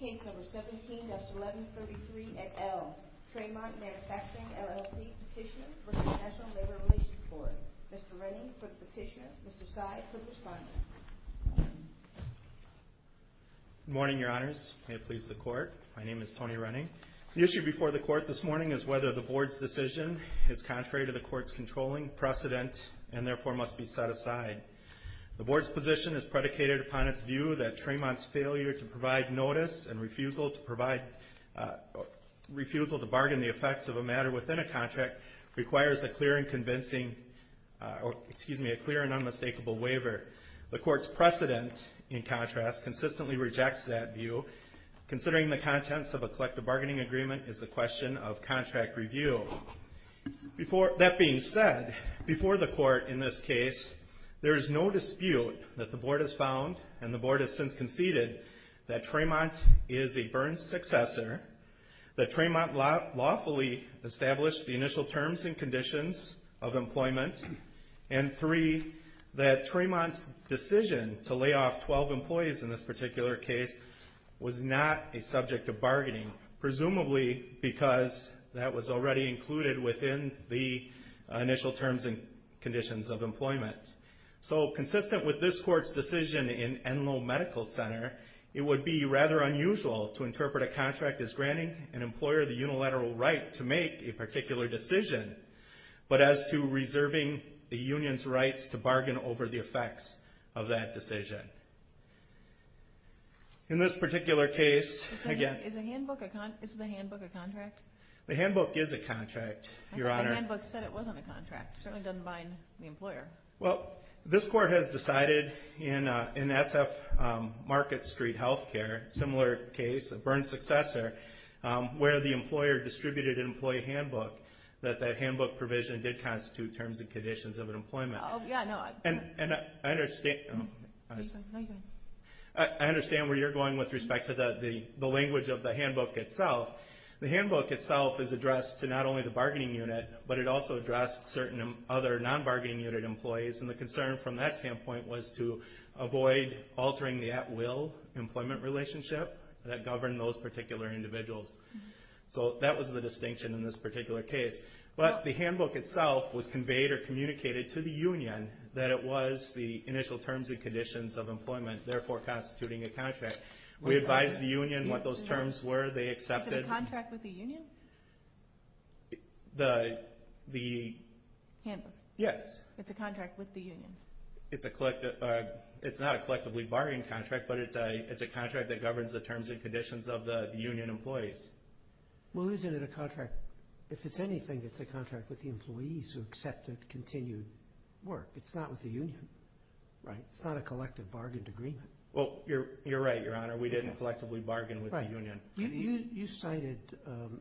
Case number 17-1133 at L. Tramont Manufacturing, LLC Petitioner v. National Labor Relations Board. Mr. Renning for the petition. Mr. Seid for the respondent. Good morning, your honors. May it please the court. My name is Tony Renning. The issue before the court this morning is whether the board's decision is contrary to the court's controlling precedent and therefore must be set aside. The board's position is predicated upon its view that Tramont's failure to provide notice and refusal to bargain the effects of a matter within a contract requires a clear and unmistakable waiver. The court's precedent, in contrast, consistently rejects that view, considering the contents of a collective bargaining agreement is the question of contract review. That being said, before the court in this case, there is no dispute that the board has found and the board has since conceded that Tramont is a Burns successor, that Tramont lawfully established the initial terms and conditions of employment, and three, that Tramont's decision to lay off 12 employees in this particular case was not a subject of bargaining, presumably because that was already included within the initial terms and conditions of employment. So consistent with this court's decision in Enloe Medical Center, it would be rather unusual to interpret a contract as granting an employer the unilateral right to make a particular decision, but as to reserving the union's rights to bargain over the effects of that decision. In this particular case, again... Is the handbook a contract? The handbook is a contract, Your Honor. The handbook said it wasn't a contract. It certainly doesn't bind the employer. Well, this court has decided in SF Market Street Healthcare, a similar case, a Burns successor, where the employer distributed an employee handbook, that that handbook provision did constitute terms and conditions of employment. Oh, yeah, no. And I understand where you're going with respect to the language of the handbook itself. The handbook itself is addressed to not only the bargaining unit, but it also addressed certain other non-bargaining unit employees, and the concern from that standpoint was to avoid altering the at-will employment relationship that governed those particular individuals. So that was the distinction in this particular case. But the handbook itself was conveyed or communicated to the union that it was the initial terms and conditions of employment, therefore constituting a contract. We advised the union what those terms were. Is it a contract with the union? The... Handbook. Yes. It's a contract with the union. It's not a collectively bargaining contract, but it's a contract that governs the terms and conditions of the union employees. Well, isn't it a contract? If it's anything, it's a contract with the employees who accepted continued work. It's not with the union, right? It's not a collective bargained agreement. Well, you're right, Your Honor. We didn't collectively bargain with the union. Right. You cited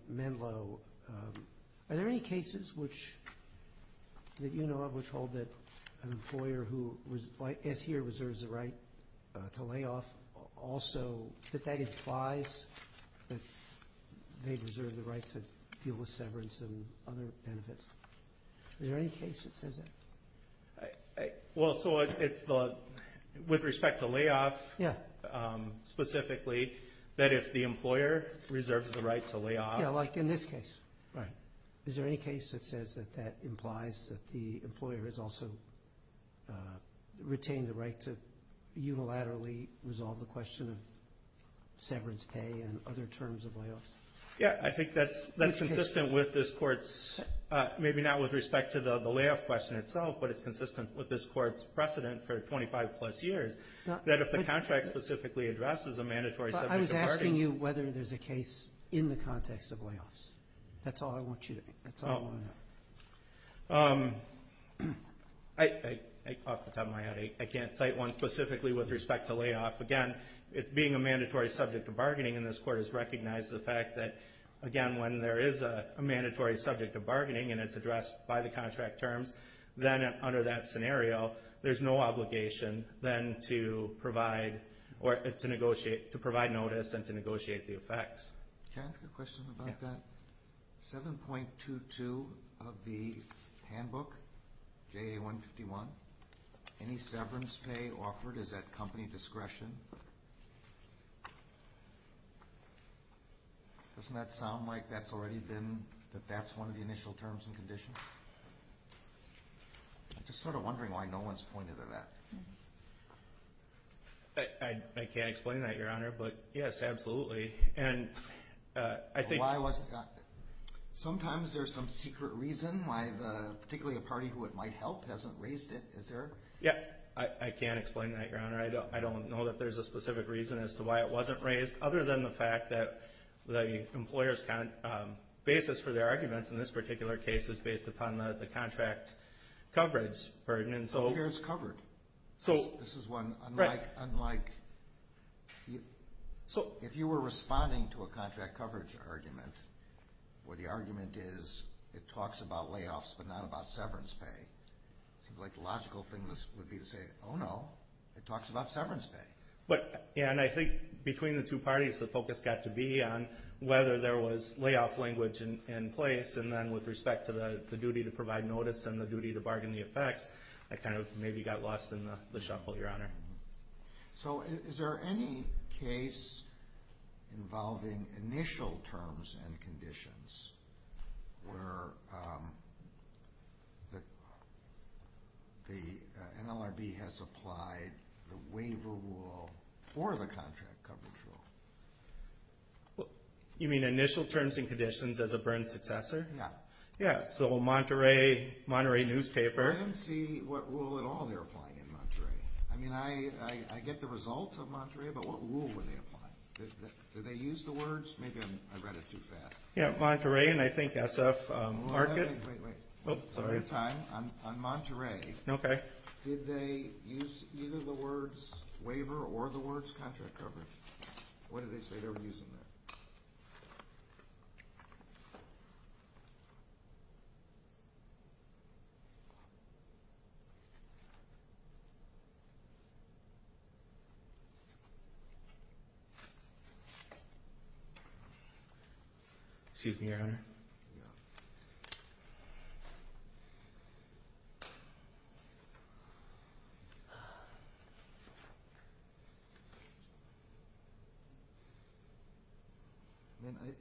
Menlo. Are there any cases that you know of which hold that an employer who, as here, reserves the right to layoff also, that that implies that they reserve the right to deal with severance and other benefits? Is there any case that says that? Well, so it's the, with respect to layoff, specifically, that if the employer reserves the right to layoff... Yes, like in this case. Right. Is there any case that says that that implies that the employer has also retained the right to unilaterally resolve the question of severance pay and other terms of layoffs? Yeah. I think that's consistent with this Court's, maybe not with respect to the layoff question itself, but it's consistent with this Court's precedent for 25-plus years that if the contract specifically addresses a mandatory subject of bargaining... I was asking you whether there's a case in the context of layoffs. That's all I want you to think. That's all I want to know. I, off the top of my head, I can't cite one specifically with respect to layoff. Again, it being a mandatory subject of bargaining, and this Court has recognized the fact that, again, when there is a mandatory subject of bargaining and it's addressed by the contract terms, then under that scenario there's no obligation then to provide or to negotiate, to provide notice and to negotiate the effects. Can I ask a question about that? Yeah. 11.22 of the handbook, JA 151, any severance pay offered is at company discretion. Doesn't that sound like that's already been, that that's one of the initial terms and conditions? I'm just sort of wondering why no one's pointed to that. I can't explain that, Your Honor, but, yes, absolutely. Why wasn't that? Sometimes there's some secret reason why the, particularly a party who it might help, hasn't raised it, is there? Yeah, I can't explain that, Your Honor. I don't know that there's a specific reason as to why it wasn't raised, other than the fact that the employer's basis for their arguments in this particular case is based upon the contract coverage burden. So this is one, unlike, if you were responding to a contract coverage argument, where the argument is it talks about layoffs but not about severance pay, it seems like the logical thing would be to say, oh, no, it talks about severance pay. Yeah, and I think between the two parties the focus got to be on whether there was layoff language in place, and then with respect to the duty to provide notice and the duty to bargain the effects, I kind of maybe got lost in the shuffle, Your Honor. So is there any case involving initial terms and conditions where the NLRB has applied the waiver rule for the contract coverage rule? You mean initial terms and conditions as a burn successor? Yeah. Yeah, so Monterey newspaper. I didn't see what rule at all they were applying in Monterey. I mean, I get the results of Monterey, but what rule were they applying? Did they use the words? Maybe I read it too fast. Yeah, Monterey and I think SF Market. Wait, wait. Sorry. On Monterey. Okay. Did they use either the words waiver or the words contract coverage? What did they say they were using there?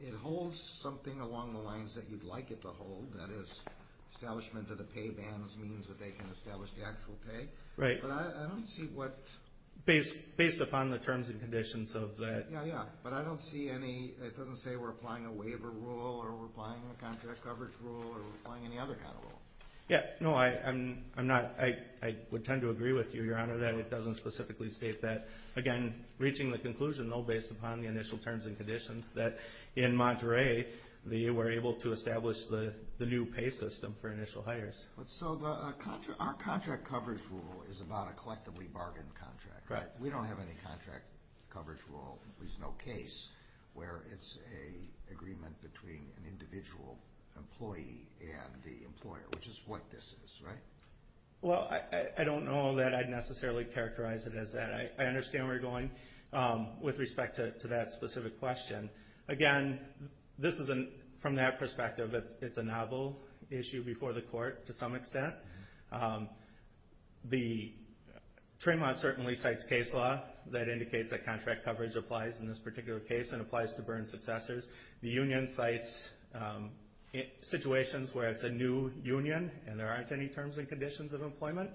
It holds something along the lines that you'd like it to hold, that is establishment of the pay bans means that they can establish the actual pay. Right. But I don't see what – Based upon the terms and conditions of that. Yeah, yeah. But I don't see any – it doesn't say we're applying a waiver rule or we're applying a contract coverage rule or we're applying any other kind of rule. Yeah. No, I'm not – I would tend to agree with you, Your Honor, that it doesn't specifically state that. Again, reaching the conclusion, though, based upon the initial terms and conditions that in Monterey they were able to establish the new pay system for initial hires. So our contract coverage rule is about a collectively bargained contract. Right. We don't have any contract coverage rule, at least no case, where it's an agreement between an individual employee and the employer, which is what this is, right? Well, I don't know that I'd necessarily characterize it as that. I understand where you're going with respect to that specific question. Again, this isn't – from that perspective, it's a novel issue before the court to some extent. The trademark certainly cites case law that indicates that contract coverage applies in this particular case and applies to Byrne successors. The union cites situations where it's a new union and there aren't any terms and conditions of employment.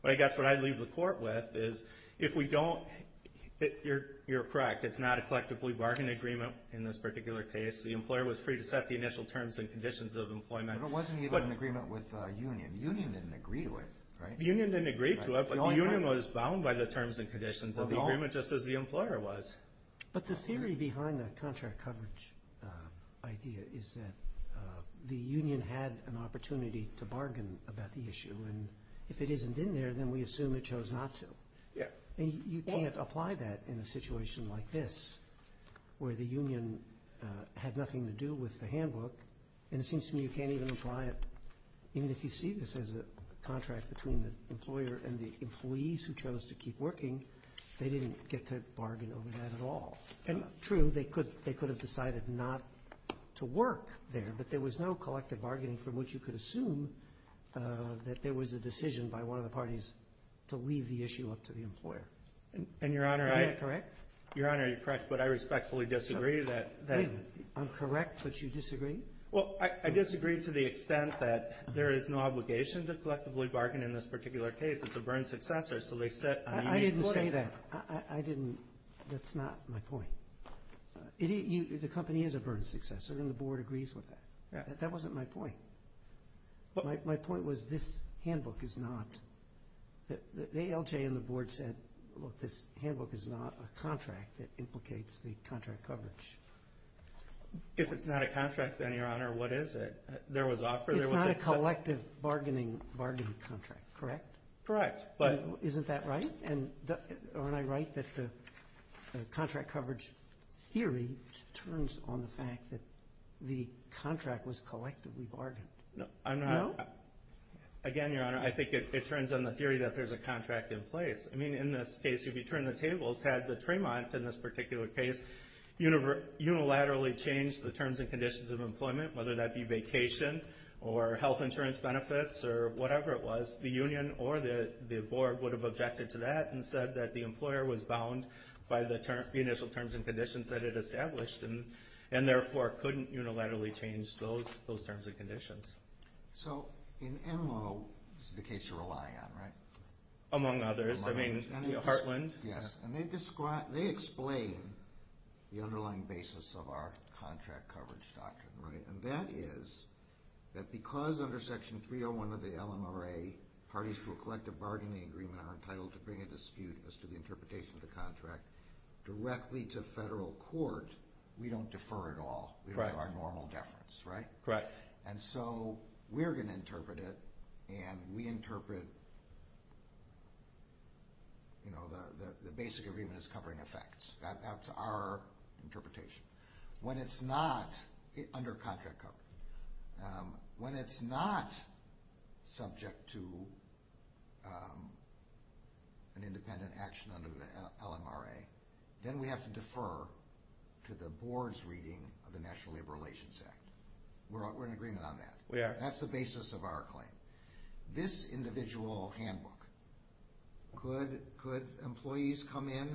But I guess what I'd leave the court with is if we don't – you're correct, it's not a collectively bargained agreement in this particular case. The employer was free to set the initial terms and conditions of employment. But it wasn't even an agreement with the union. The union didn't agree to it, right? The union didn't agree to it, but the union was bound by the terms and conditions of the agreement just as the employer was. But the theory behind the contract coverage idea is that the union had an opportunity to bargain about the issue. And if it isn't in there, then we assume it chose not to. And you can't apply that in a situation like this where the union had nothing to do with the handbook. And it seems to me you can't even apply it, even if you see this as a contract between the employer and the employees who chose to keep working. They didn't get to bargain over that at all. True, they could have decided not to work there, but there was no collective bargaining from which you could assume that there was a decision by one of the parties to leave the issue up to the employer. Is that correct? Your Honor, you're correct, but I respectfully disagree that that – I'm correct, but you disagree? Well, I disagree to the extent that there is no obligation to collectively bargain in this particular case. It's a burn successor, so they sit on a unique footing. I didn't say that. I didn't. That's not my point. The company is a burn successor, and the Board agrees with that. That wasn't my point. My point was this handbook is not – the ALJ and the Board said, this handbook is not a contract that implicates the contract coverage. If it's not a contract, then, Your Honor, what is it? There was offer. It's not a collective bargaining contract, correct? Correct. Isn't that right? And aren't I right that the contract coverage theory turns on the fact that the contract was collectively bargained? No. Again, Your Honor, I think it turns on the theory that there's a contract in place. I mean, in this case, if you turn the tables, had the Tremont in this particular case unilaterally changed the terms and conditions of employment, whether that be vacation or health insurance benefits or whatever it was, the union or the Board would have objected to that and said that the employer was bound by the initial terms and conditions that it established and, therefore, couldn't unilaterally change those terms and conditions. So in Enloe, this is the case you're relying on, right? Among others. Among others. I mean, Heartland. Yes, and they explain the underlying basis of our contract coverage doctrine, right? And that is that because under Section 301 of the LMRA, parties to a collective bargaining agreement are entitled to bring a dispute as to the interpretation of the contract directly to federal court, we don't defer at all. We don't have our normal deference, right? Correct. And so we're going to interpret it, and we interpret the basic agreement as covering effects. That's our interpretation. When it's not under contract coverage, when it's not subject to an independent action under the LMRA, then we have to defer to the Board's reading of the National Labor Relations Act. We're in agreement on that. We are. That's the basis of our claim. This individual handbook, could employees come in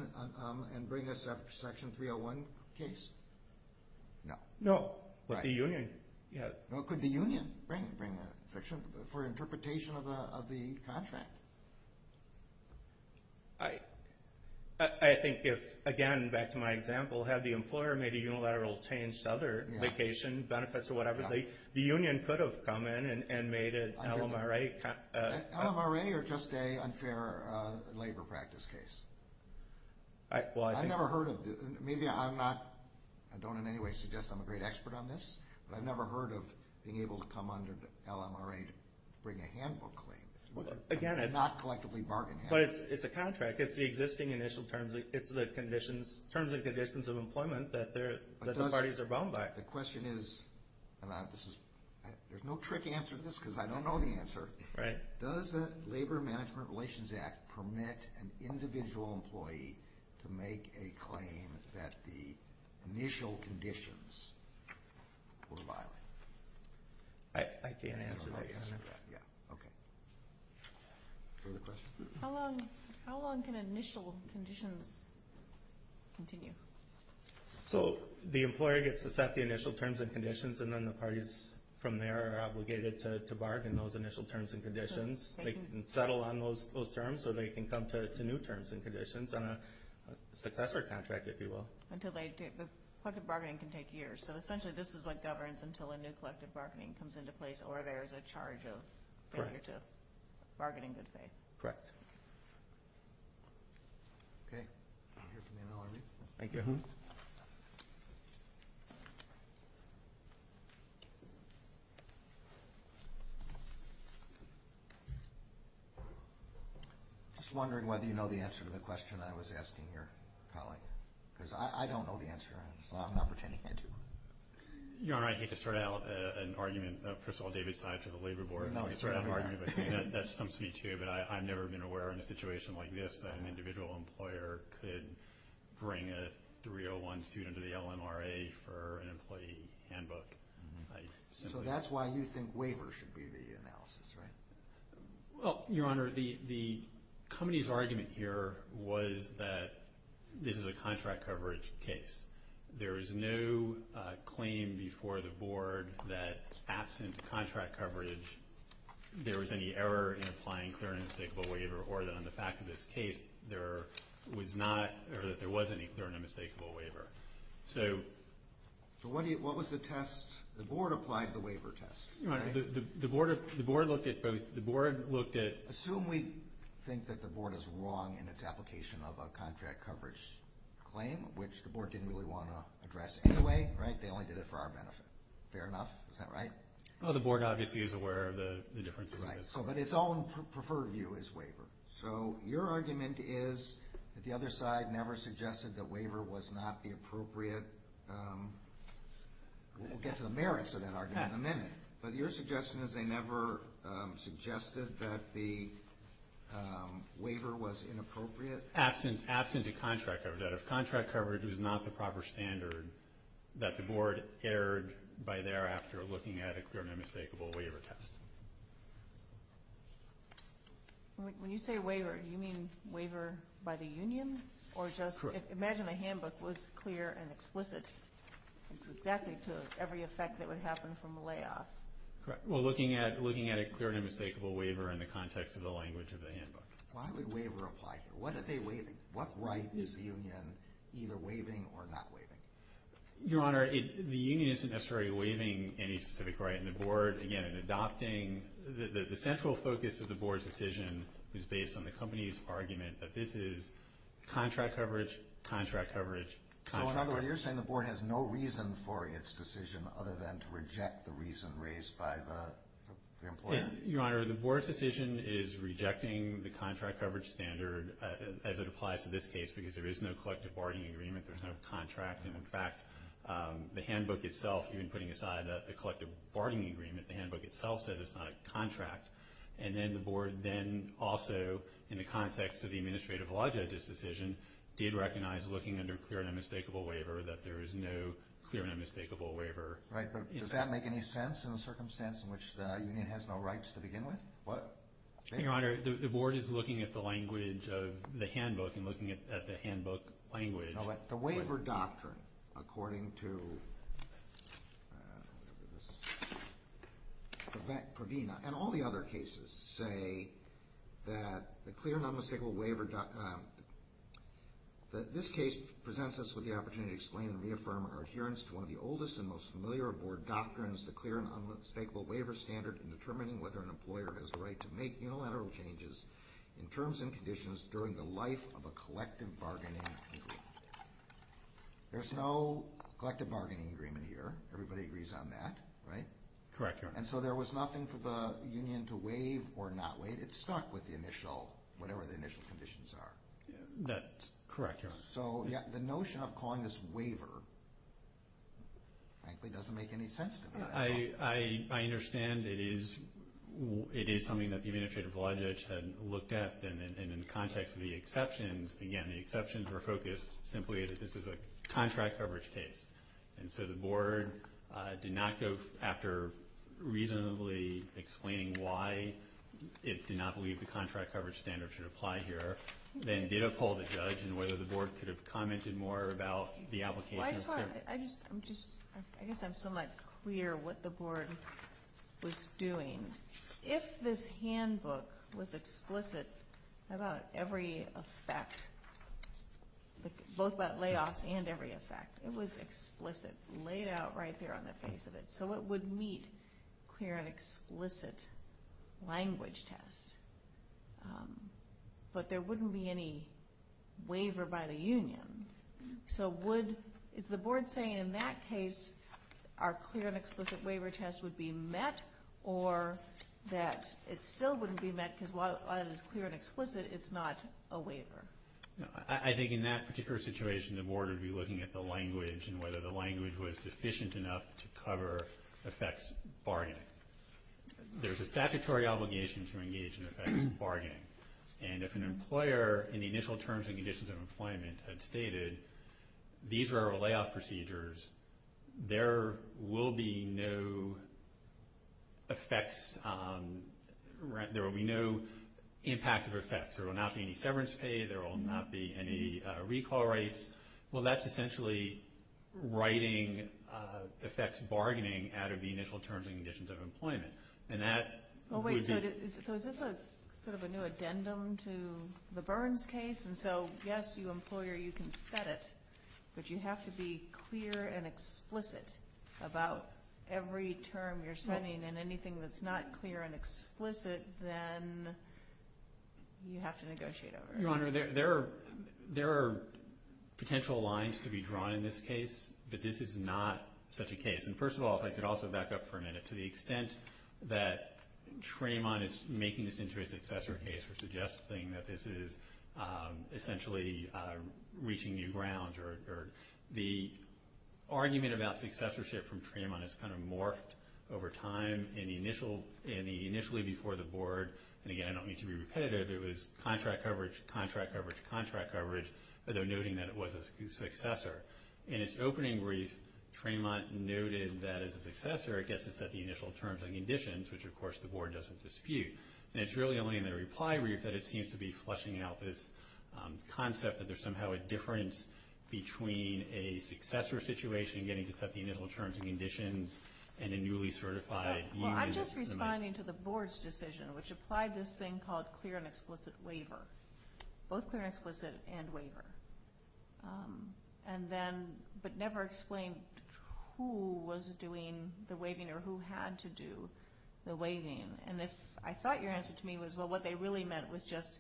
and bring a Section 301 case? No. No. With the union. No, could the union bring a section for interpretation of the contract? I think if, again, back to my example, had the employer made a unilateral change to other vacation benefits or whatever, the union could have come in and made an LMRA. LMRA or just a unfair labor practice case? I've never heard of it. Maybe I'm not, I don't in any way suggest I'm a great expert on this, but I've never heard of being able to come under the LMRA to bring a handbook claim. Again, it's not collectively bargaining. But it's a contract. It's the existing initial terms. It's the terms and conditions of employment that the parties are bound by. The question is, and there's no trick answer to this because I don't know the answer. Right. Does the Labor Management Relations Act permit an individual employee to make a claim that the initial conditions were violent? I can't answer that. You don't know the answer to that. Okay. Further questions? How long can initial conditions continue? So the employer gets to set the initial terms and conditions, and then the parties from there are obligated to bargain those initial terms and conditions. They can settle on those terms or they can come to new terms and conditions on a successor contract, if you will. The collective bargaining can take years. So essentially this is what governs until a new collective bargaining comes into place or there's a charge of failure to bargain in good faith. Correct. Okay. I hear from the NLRB. Thank you. Just wondering whether you know the answer to the question I was asking your colleague. Because I don't know the answer, so I'm not pretending I do. Your Honor, I hate to start out an argument. First of all, David's tied to the Labor Board. That stumps me too, but I've never been aware in a situation like this that an individual employer could bring a 301 student to the LNRA for an employee handbook. So that's why you think waivers should be the analysis, right? Well, Your Honor, the company's argument here was that this is a contract coverage case. There is no claim before the Board that absent contract coverage, there was any error in applying clear and unmistakable waiver, or that on the facts of this case, there was not or that there was any clear and unmistakable waiver. So what was the test? The Board applied the waiver test, right? Your Honor, the Board looked at both. The Board looked at- Assume we think that the Board is wrong in its application of a contract coverage claim, which the Board didn't really want to address anyway, right? They only did it for our benefit. Fair enough? Is that right? Well, the Board obviously is aware of the differences in this. Right. But its own preferred view is waiver. So your argument is that the other side never suggested that waiver was not the appropriate- we'll get to the merits of that argument in a minute. But your suggestion is they never suggested that the waiver was inappropriate? Absent a contract coverage. That if contract coverage was not the proper standard, that the Board erred by thereafter looking at a clear and unmistakable waiver test. When you say waiver, do you mean waiver by the union? Correct. Or just imagine a handbook was clear and explicit. It's exactly to every effect that would happen from a layoff. Correct. Well, looking at a clear and unmistakable waiver in the context of the language of the handbook. Why would waiver apply here? What right is the union either waiving or not waiving? Your Honor, the union isn't necessarily waiving any specific right. And the Board, again, in adopting- the central focus of the Board's decision is based on the company's argument that this is contract coverage, contract coverage, contract coverage. So in other words, you're saying the Board has no reason for its decision other than to reject the reason raised by the employer? Your Honor, the Board's decision is rejecting the contract coverage standard as it applies to this case because there is no collective bargaining agreement. There's no contract. And, in fact, the handbook itself, even putting aside the collective bargaining agreement, the handbook itself says it's not a contract. And then the Board then also, in the context of the administrative law judge's decision, did recognize looking under clear and unmistakable waiver that there is no clear and unmistakable waiver. Right, but does that make any sense in the circumstance in which the union has no rights to begin with? What? Your Honor, the Board is looking at the language of the handbook and looking at the handbook language. No, but the waiver doctrine, according to Pravina and all the other cases, say that the clear and unmistakable waiver- that this case presents us with the opportunity to explain and reaffirm our adherence to one of the oldest and most familiar Board doctrines, the clear and unmistakable waiver standard, in determining whether an employer has the right to make unilateral changes in terms and conditions during the life of a collective bargaining agreement. There's no collective bargaining agreement here. Everybody agrees on that, right? Correct, Your Honor. And so there was nothing for the union to waive or not waive. It stuck with the initial, whatever the initial conditions are. That's correct, Your Honor. So the notion of calling this waiver frankly doesn't make any sense to me. I understand it is something that the Administrative Law Judge had looked at, and in the context of the exceptions, again, the exceptions were focused simply that this is a contract coverage case. And so the Board did not go after reasonably explaining why it did not believe the contract coverage standard should apply here, but then did uphold the judge and whether the Board could have commented more about the application. I guess I'm somewhat clear what the Board was doing. If this handbook was explicit about every effect, both about layoffs and every effect, it was explicit laid out right there on the face of it, so it would meet clear and explicit language tests. But there wouldn't be any waiver by the union. So would, is the Board saying in that case, our clear and explicit waiver test would be met, or that it still wouldn't be met because while it is clear and explicit, it's not a waiver? I think in that particular situation, the Board would be looking at the language and whether the language was sufficient enough to cover effects barring it. There's a statutory obligation to engage in effects bargaining. And if an employer, in the initial terms and conditions of employment, had stated these were our layoff procedures, there will be no effects, there will be no impact of effects. There will not be any severance pay. There will not be any recall rates. Well, that's essentially writing effects bargaining out of the initial terms and conditions of employment. And that would be... So is this sort of a new addendum to the Burns case? And so, yes, you, employer, you can set it, but you have to be clear and explicit about every term you're setting, and anything that's not clear and explicit, then you have to negotiate over it. Your Honor, there are potential lines to be drawn in this case, but this is not such a case. And, first of all, if I could also back up for a minute, to the extent that Tremont is making this into a successor case or suggesting that this is essentially reaching new ground, or the argument about successorship from Tremont has kind of morphed over time. And initially before the Board, and, again, I don't mean to be repetitive, it was contract coverage, contract coverage, contract coverage, although noting that it was a successor. In its opening brief, Tremont noted that, as a successor, it gets to set the initial terms and conditions, which, of course, the Board doesn't dispute. And it's really only in the reply brief that it seems to be fleshing out this concept that there's somehow a difference between a successor situation, getting to set the initial terms and conditions, and a newly certified... Well, I'm just responding to the Board's decision, which applied this thing called clear and explicit waiver, both clear and explicit and waiver. And then, but never explained who was doing the waiving or who had to do the waiving. And I thought your answer to me was, well, what they really meant was just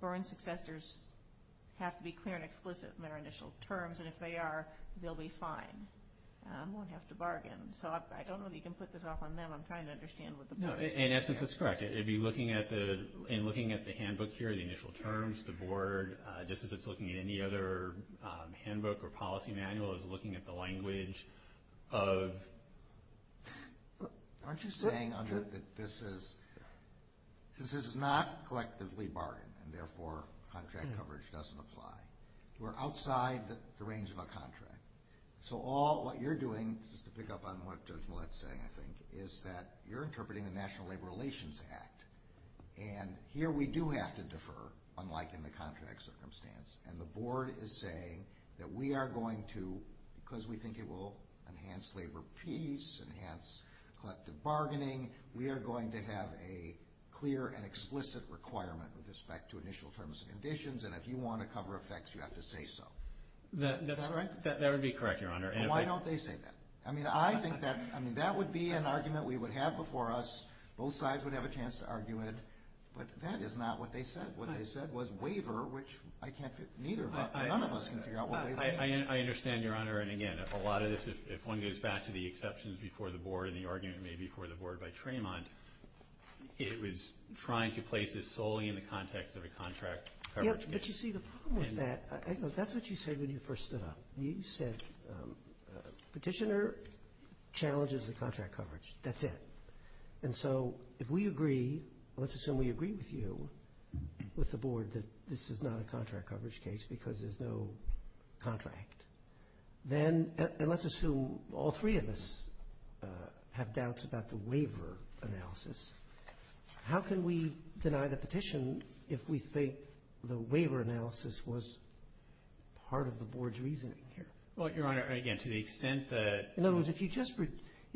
born successors have to be clear and explicit in their initial terms, and if they are, they'll be fine. I won't have to bargain. So I don't know that you can put this off on them. I'm trying to understand what the Board... No, in essence, it's correct. It'd be looking at the handbook here, the initial terms, the Board, just as it's looking at any other handbook or policy manual, it's looking at the language of... Aren't you saying, Andrew, that this is not collectively bargained, and therefore contract coverage doesn't apply? We're outside the range of a contract. So all what you're doing, just to pick up on what Judge Millett's saying, I think, is that you're interpreting the National Labor Relations Act, and here we do have to defer, unlike in the contract circumstance, and the Board is saying that we are going to, because we think it will enhance labor peace, enhance collective bargaining, we are going to have a clear and explicit requirement with respect to initial terms and conditions, and if you want to cover effects, you have to say so. Is that right? That would be correct, Your Honor. Why don't they say that? I mean, I think that would be an argument we would have before us. Both sides would have a chance to argue it. But that is not what they said. What they said was waiver, which I can't figure out. None of us can figure out what waiver is. I understand, Your Honor. And, again, a lot of this, if one goes back to the exceptions before the Board and the argument made before the Board by Tremont, it was trying to place this solely in the context of a contract coverage case. Yes, but you see, the problem with that, that's what you said when you first stood up. You said petitioner challenges the contract coverage. That's it. And so if we agree, let's assume we agree with you, with the Board, that this is not a contract coverage case because there's no contract, and let's assume all three of us have doubts about the waiver analysis, how can we deny the petition if we think the waiver analysis was part of the contract here? Well, Your Honor, again, to the extent that... In other words,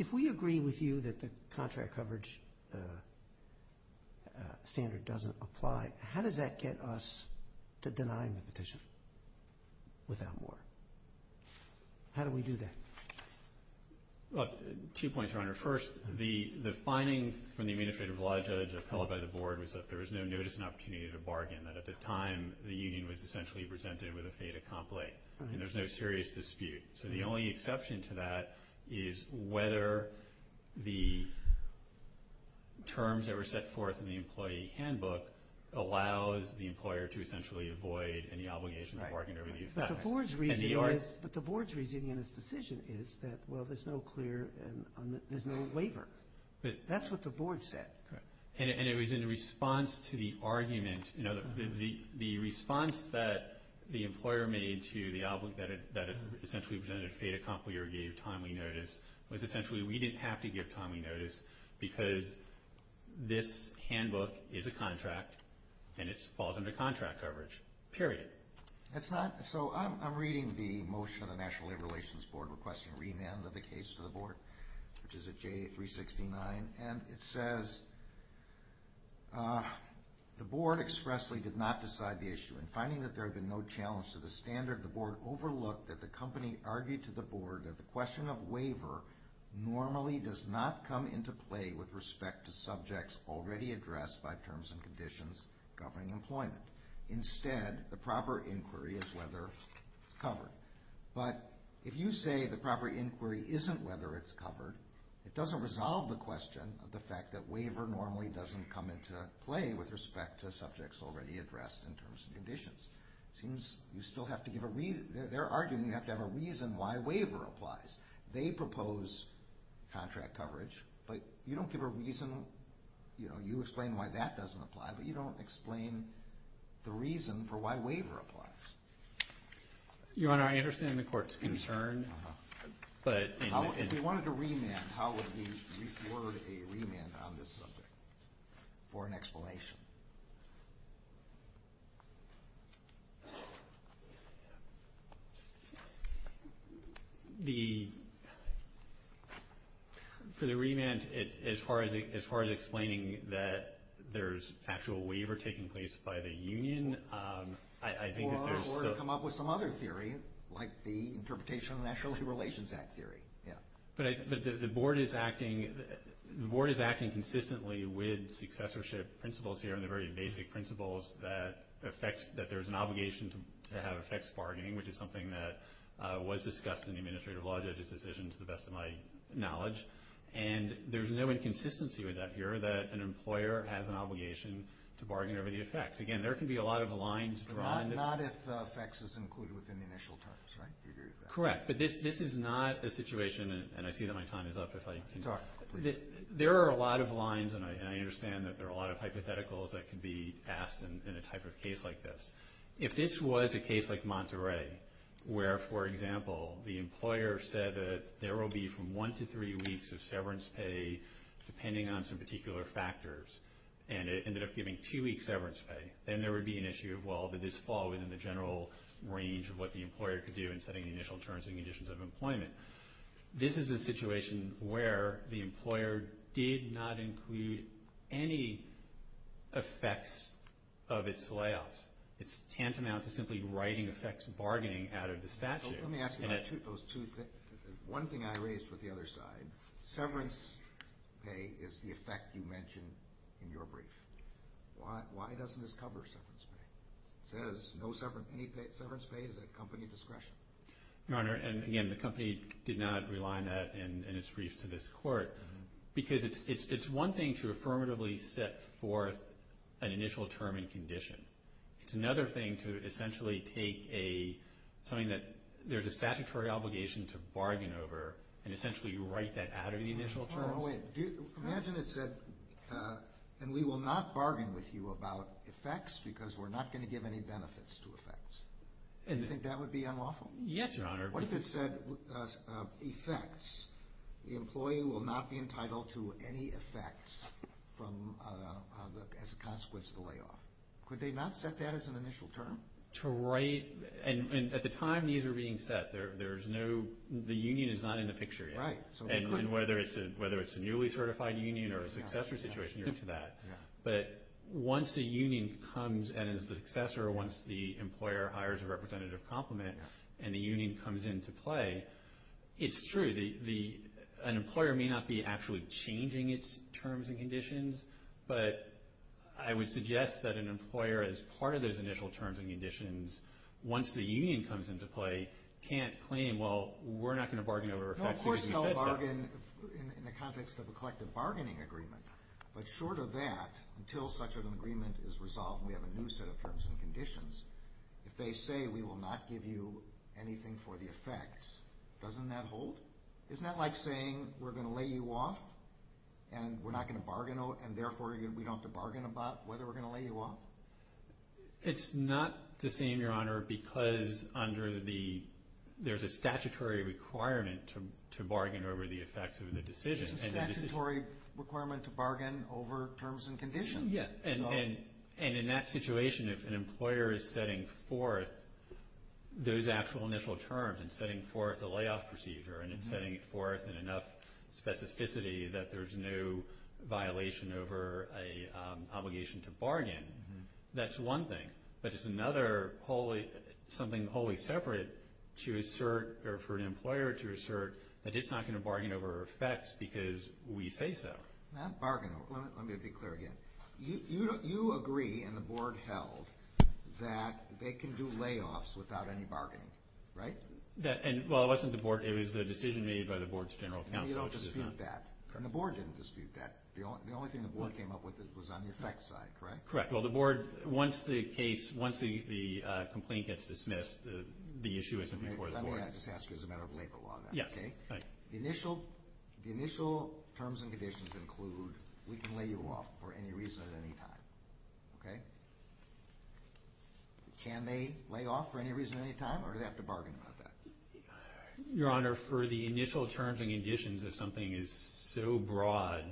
if we agree with you that the contract coverage standard doesn't apply, how does that get us to denying the petition without more? How do we do that? Two points, Your Honor. First, the finding from the Administrative Law Judge appellate by the Board was that there was no notice and opportunity to bargain, that at the time the union was essentially presented with a fait accompli. And there's no serious dispute. So the only exception to that is whether the terms that were set forth in the employee handbook allows the employer to essentially avoid any obligation to bargain over the effects. But the Board's reasoning in its decision is that, well, there's no waiver. That's what the Board said. And it was in response to the argument, the response that the employer made to the outlook that it essentially presented a fait accompli or gave timely notice, was essentially we didn't have to give timely notice because this handbook is a contract and it falls under contract coverage, period. So I'm reading the motion of the National Labor Relations Board requesting remand of the case to the Board, which is at J369. And it says the Board expressly did not decide the issue. In finding that there had been no challenge to the standard, the Board overlooked that the company argued to the Board that the question of waiver normally does not come into play with respect to subjects already addressed by terms and conditions governing employment. Instead, the proper inquiry is whether it's covered. But if you say the proper inquiry isn't whether it's covered, it doesn't resolve the question of the fact that waiver normally doesn't come into play with respect to subjects already addressed in terms of conditions. It seems you still have to give a reason. They're arguing you have to have a reason why waiver applies. They propose contract coverage, but you don't give a reason, you know, you explain why that doesn't apply, but you don't explain the reason for why waiver applies. Your Honor, I understand the Court's concern. If we wanted to remand, how would we award a remand on this subject for an explanation? For the remand, as far as explaining that there's actual waiver taking place by the union, I think that there's... Or to come up with some other theory, like the Interpretation of the National Relations Act theory. But the Board is acting consistently with successorship principles here and the very basic principles that there's an obligation to have effects bargaining, which is something that was discussed in the Administrative Law Judges' decision, to the best of my knowledge. And there's no inconsistency with that here, that an employer has an obligation to bargain over the effects. Again, there can be a lot of lines drawn. Not if effects is included within the initial terms, right? Correct. But this is not a situation, and I see that my time is up, if I can... Sorry. There are a lot of lines, and I understand that there are a lot of hypotheticals that can be asked in a type of case like this. If this was a case like Monterey, where, for example, the employer said that there will be from one to three weeks of severance pay, depending on some particular factors, and it ended up giving two weeks severance pay, then there would be an issue of, well, did this fall within the general range of what the employer could do in setting the initial terms and conditions of employment? This is a situation where the employer did not include any effects of its layoffs. It's tantamount to simply writing effects bargaining out of the statute. Let me ask you about those two things. One thing I raised with the other side, severance pay is the effect you mentioned in your brief. Why doesn't this cover severance pay? It says no severance pay. Severance pay is at company discretion. Your Honor, and again, the company did not rely on that in its brief to this court because it's one thing to affirmatively set forth an initial term and condition. It's another thing to essentially take something that there's a statutory obligation to bargain over and essentially write that out of the initial terms. Imagine it said, and we will not bargain with you about effects because we're not going to give any benefits to effects. Do you think that would be unlawful? Yes, Your Honor. What if it said effects? The employee will not be entitled to any effects as a consequence of the layoff. Could they not set that as an initial term? At the time these were being set, the union is not in the picture yet. Right. Whether it's a newly certified union or a successor situation, you're into that. But once a union comes and is a successor, once the employer hires a representative compliment and the union comes into play, it's true. But I would suggest that an employer, as part of those initial terms and conditions, once the union comes into play, can't claim, well, we're not going to bargain over effects because we said so. No, of course they'll bargain in the context of a collective bargaining agreement. But short of that, until such an agreement is resolved and we have a new set of terms and conditions, if they say we will not give you anything for the effects, doesn't that hold? Isn't that like saying we're going to lay you off and we're not going to bargain, and therefore we don't have to bargain about whether we're going to lay you off? It's not the same, Your Honor, because there's a statutory requirement to bargain over the effects of the decision. There's a statutory requirement to bargain over terms and conditions. Yes, and in that situation, if an employer is setting forth those actual initial terms and setting forth the layoff procedure and setting it forth in enough specificity that there's no violation over an obligation to bargain, that's one thing. But it's another, something wholly separate to assert or for an employer to assert that it's not going to bargain over effects because we say so. Let me be clear again. You agree, and the Board held, that they can do layoffs without any bargaining, right? Well, it wasn't the Board. It was the decision made by the Board's general counsel. You don't dispute that, and the Board didn't dispute that. The only thing the Board came up with was on the effects side, correct? Correct. Well, the Board, once the complaint gets dismissed, the issue isn't before the Board. Let me just ask you as a matter of labor law then. Yes. Okay. The initial terms and conditions include we can lay you off for any reason at any time, okay? Can they lay off for any reason at any time, or do they have to bargain about that? Your Honor, for the initial terms and conditions, if something is so broad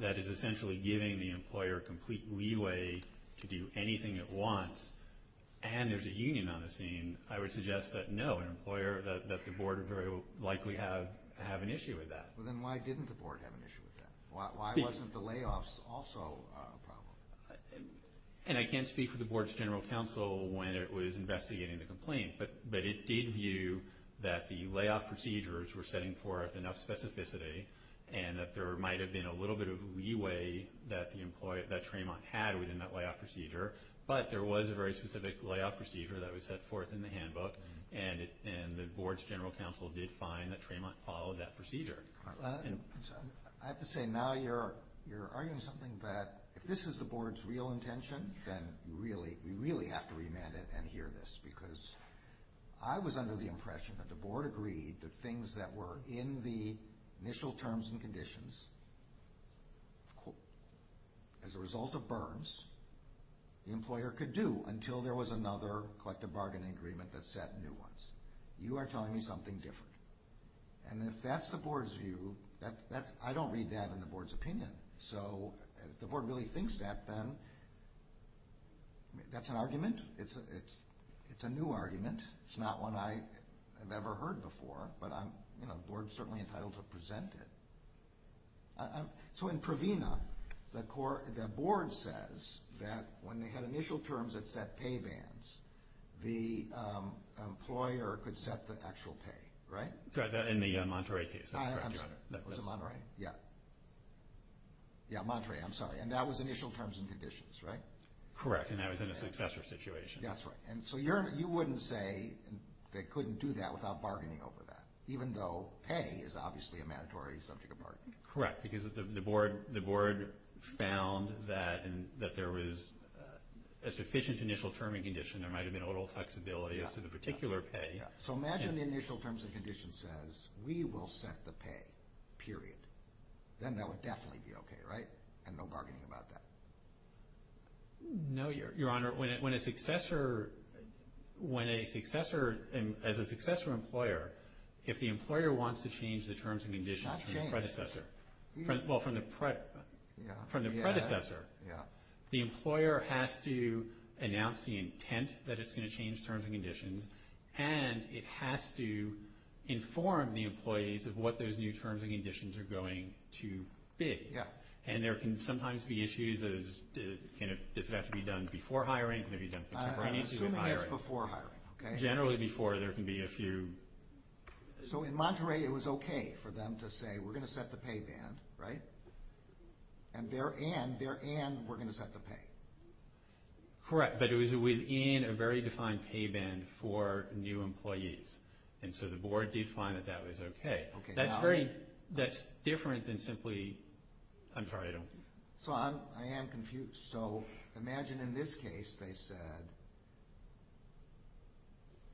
that is essentially giving the employer complete leeway to do anything it wants and there's a union on the scene, I would suggest that no, that the Board would very likely have an issue with that. Well, then why didn't the Board have an issue with that? Why wasn't the layoffs also a problem? And I can't speak for the Board's general counsel when it was investigating the complaint, but it did view that the layoff procedures were setting forth enough specificity and that there might have been a little bit of leeway that Traymont had within that layoff procedure, but there was a very specific layoff procedure that was set forth in the handbook, and the Board's general counsel did find that Traymont followed that procedure. I have to say, now you're arguing something that if this is the Board's real intention, then we really have to remand it and hear this, because I was under the impression that the Board agreed that things that were in the initial terms and conditions as a result of burns, the employer could do until there was another collective bargaining agreement that set new ones. You are telling me something different. And if that's the Board's view, I don't read that in the Board's opinion. So if the Board really thinks that, then that's an argument. It's a new argument. It's not one I have ever heard before, but the Board is certainly entitled to present it. So in Provena, the Board says that when they had initial terms that set pay bans, the employer could set the actual pay, right? In the Monterey case, that's correct, Your Honor. Was it Monterey? Yeah. Yeah, Monterey, I'm sorry. And that was initial terms and conditions, right? Correct, and that was in a successor situation. That's right. And so you wouldn't say they couldn't do that without bargaining over that, even though pay is obviously a mandatory subject of bargaining. Correct, because the Board found that there was a sufficient initial term and condition. There might have been a little flexibility as to the particular pay. So imagine the initial terms and conditions says we will set the pay, period. Then that would definitely be okay, right? And no bargaining about that. No, Your Honor. Your Honor, as a successor employer, if the employer wants to change the terms and conditions from the predecessor, the employer has to announce the intent that it's going to change terms and conditions, and it has to inform the employees of what those new terms and conditions are going to be. Yeah. And there can sometimes be issues as to does it have to be done before hiring, can it be done contemporaneously with hiring. I'm assuming it's before hiring, okay. Generally before, there can be a few. So in Monterey it was okay for them to say we're going to set the pay band, right? And therein, therein we're going to set the pay. Correct, but it was within a very defined pay band for new employees. And so the Board did find that that was okay. That's different than simply, I'm sorry, I don't. So I am confused. So imagine in this case they said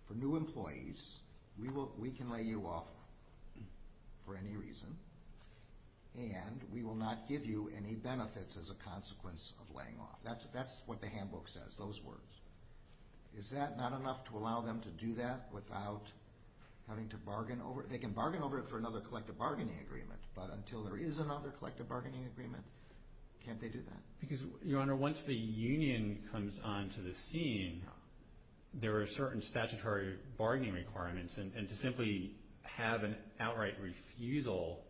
for new employees, we can lay you off for any reason, and we will not give you any benefits as a consequence of laying off. That's what the handbook says, those words. Is that not enough to allow them to do that without having to bargain over it? They can bargain over it for another collective bargaining agreement, but until there is another collective bargaining agreement, can't they do that? Because, Your Honor, once the union comes onto the scene, there are certain statutory bargaining requirements, and to simply have an outright refusal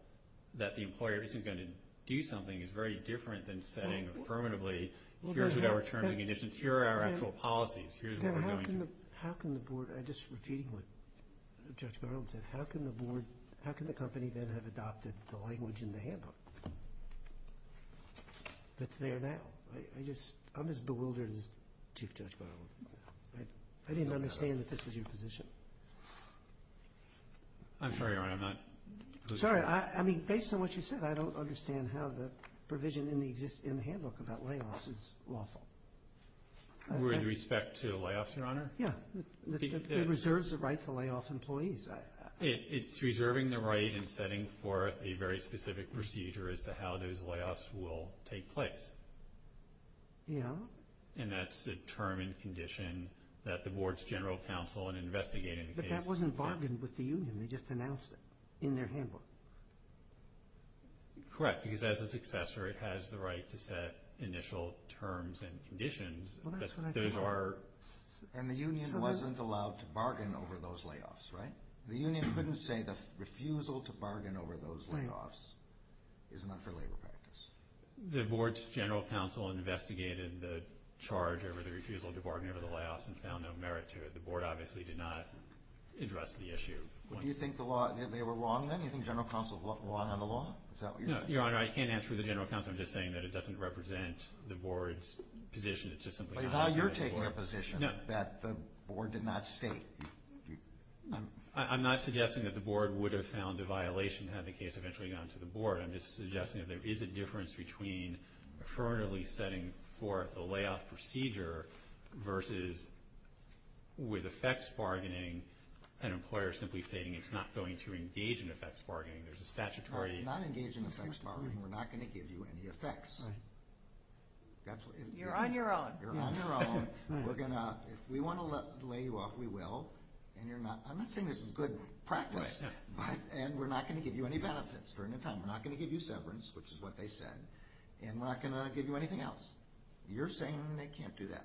that the employer isn't going to do something is very different than saying affirmatively, here's what our terms and conditions, here are our actual policies, here's what we're going to do. How can the Board, just repeating what Judge Garland said, how can the Board, how can the company then have adopted the language in the handbook that's there now? I'm as bewildered as Chief Judge Garland. I didn't understand that this was your position. I'm sorry, Your Honor, I'm not. Sorry, I mean, based on what you said, I don't understand how the provision in the handbook about layoffs is lawful. With respect to layoffs, Your Honor? Yeah. It reserves the right to layoff employees. It's reserving the right and setting forth a very specific procedure as to how those layoffs will take place. Yeah. And that's a term and condition that the Board's general counsel in investigating the case. But that wasn't bargained with the union. They just announced it in their handbook. Correct, because as a successor, it has the right to set initial terms and conditions. Well, that's what I thought. And the union wasn't allowed to bargain over those layoffs, right? The union couldn't say the refusal to bargain over those layoffs is not for labor practice. The Board's general counsel investigated the charge over the refusal to bargain over the layoffs and found no merit to it. The Board obviously did not address the issue. Do you think the law, they were wrong then? Do you think general counsel's law had a law? Is that what you're saying? No, Your Honor, I can't answer for the general counsel. I'm just saying that it doesn't represent the Board's position. It's just something I heard from the Board. But now you're taking a position that the Board did not state. I'm not suggesting that the Board would have found a violation had the case eventually gone to the Board. I'm just suggesting that there is a difference between affirmatively setting forth a layoff procedure versus with effects bargaining, an employer simply stating it's not going to engage in effects bargaining. There's a statutory... Not engage in effects bargaining. We're not going to give you any effects. You're on your own. You're on your own. If we want to lay you off, we will. I'm not saying this is good practice, and we're not going to give you any benefits during the time. We're not going to give you severance, which is what they said, and we're not going to give you anything else. You're saying they can't do that.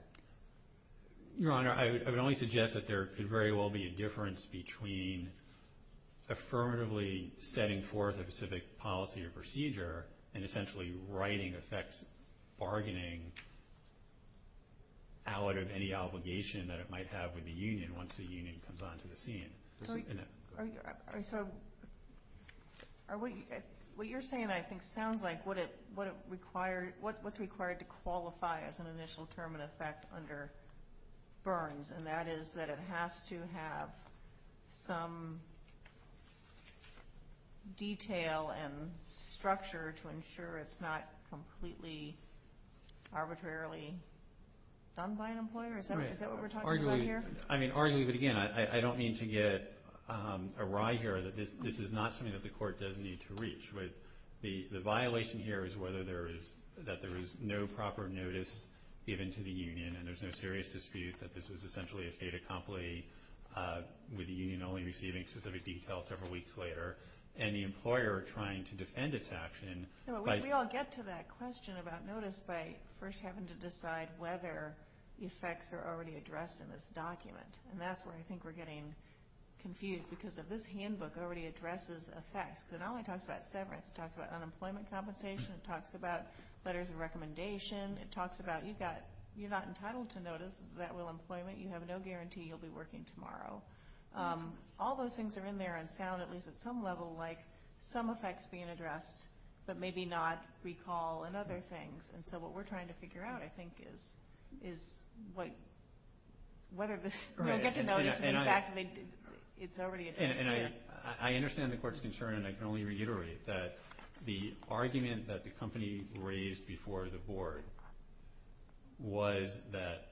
Your Honor, I would only suggest that there could very well be a difference between affirmatively setting forth a specific policy or procedure and essentially writing effects bargaining out of any obligation that it might have with the union once the union comes onto the scene. What you're saying, I think, sounds like what's required to qualify as an initial term of effect under Burns, and that is that it has to have some detail and structure to ensure it's not completely arbitrarily done by an employer. Is that what we're talking about here? Arguably, but again, I don't mean to get awry here. This is not something that the court does need to reach. The violation here is that there is no proper notice given to the union, and there's no serious dispute that this was essentially a fait accompli with the union only receiving specific details several weeks later, and the employer trying to defend its action. We all get to that question about notice by first having to decide whether effects are already addressed in this document, and that's where I think we're getting confused because this handbook already addresses effects. It not only talks about severance. It talks about unemployment compensation. It talks about letters of recommendation. It talks about you're not entitled to notice. Is that real employment? You have no guarantee you'll be working tomorrow. All those things are in there and sound, at least at some level, like some effects being addressed but maybe not recall and other things, and so what we're trying to figure out, I think, is whether we'll get to notice if, in fact, it's already addressed here. I understand the court's concern, and I can only reiterate that the argument that the company raised before the board was that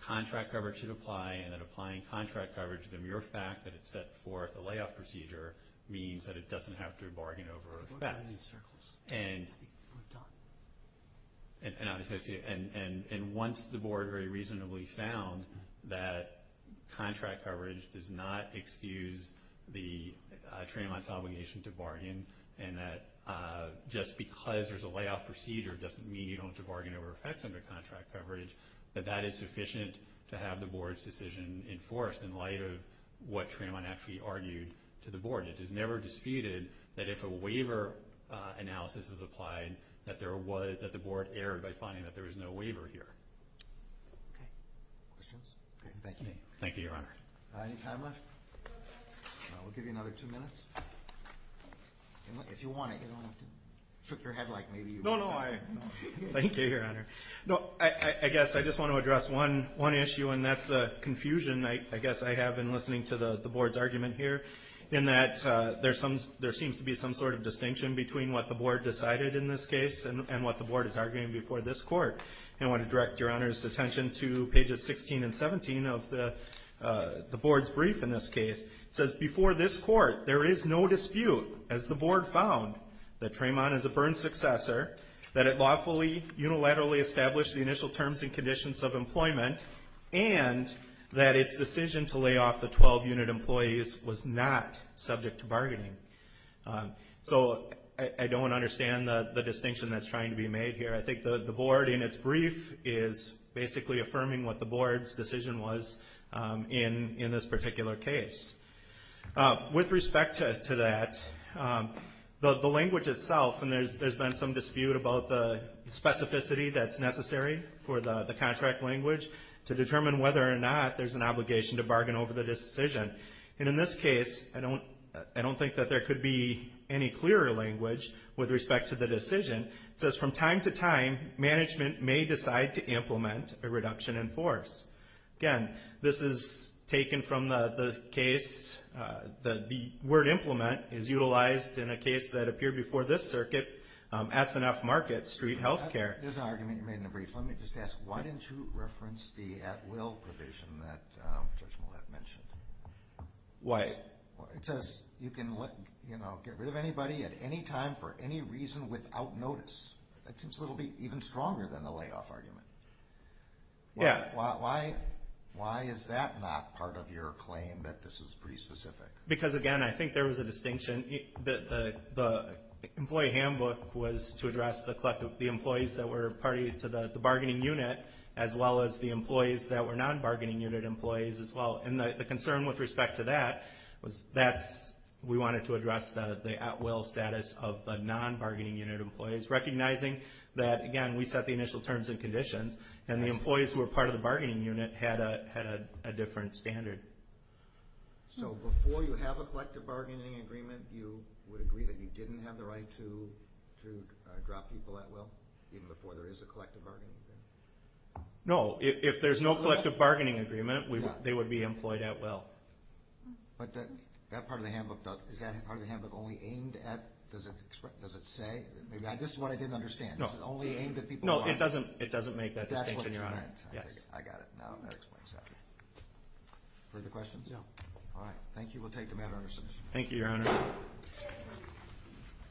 contract coverage should apply and that applying contract coverage, the mere fact that it set forth a layoff procedure, means that it doesn't have to bargain over effects. And once the board very reasonably found that contract coverage does not excuse the trademark's obligation to bargain and that just because there's a layoff procedure doesn't mean you don't have to bargain over effects under contract coverage, that that is sufficient to have the board's decision enforced in light of what Tremont actually argued to the board. It is never disputed that if a waiver analysis is applied, that the board erred by finding that there was no waiver here. Okay. Questions? Thank you. Thank you, Your Honor. Any time left? We'll give you another two minutes. If you want it, you don't have to trick your head like maybe you would. No, no. Thank you, Your Honor. No, I guess I just want to address one issue, and that's the confusion I guess I have in listening to the board's argument here in that there seems to be some sort of distinction between what the board decided in this case and what the board is arguing before this court. I want to direct Your Honor's attention to pages 16 and 17 of the board's brief in this case. It says, Before this court, there is no dispute, as the board found, that Tremont is a burn successor, that it lawfully unilaterally established the initial terms and conditions of employment, and that its decision to lay off the 12-unit employees was not subject to bargaining. So I don't understand the distinction that's trying to be made here. I think the board in its brief is basically affirming what the board's decision was in this particular case. With respect to that, the language itself, and there's been some dispute about the specificity that's necessary for the contract language to determine whether or not there's an obligation to bargain over the decision. And in this case, I don't think that there could be any clearer language with respect to the decision. It says, From time to time, management may decide to implement a reduction in force. Again, this is taken from the case, the word implement is utilized in a case that appeared before this circuit, S&F Market Street Healthcare. There's an argument you made in the brief. Let me just ask, why didn't you reference the at-will provision that Judge Millett mentioned? Why? It says you can get rid of anybody at any time for any reason without notice. That seems to be even stronger than the layoff argument. Yeah. Why is that not part of your claim that this is pretty specific? Because, again, I think there was a distinction. The employee handbook was to address the employees that were party to the bargaining unit, as well as the employees that were non-bargaining unit employees as well. And the concern with respect to that was we wanted to address the at-will status of the non-bargaining unit employees, recognizing that, again, we set the initial terms and conditions, and the employees who were part of the bargaining unit had a different standard. So before you have a collective bargaining agreement, you would agree that you didn't have the right to drop people at-will, even before there is a collective bargaining agreement? No. If there's no collective bargaining agreement, they would be employed at-will. But that part of the handbook, is that part of the handbook only aimed at, does it say? This is what I didn't understand. No. Is it only aimed at people who aren't? No, it doesn't make that distinction, Your Honor. That's what you meant. Yes. I got it now. That explains that. Further questions? No. All right. Thank you. We'll take the matter under submission. Thank you, Your Honor.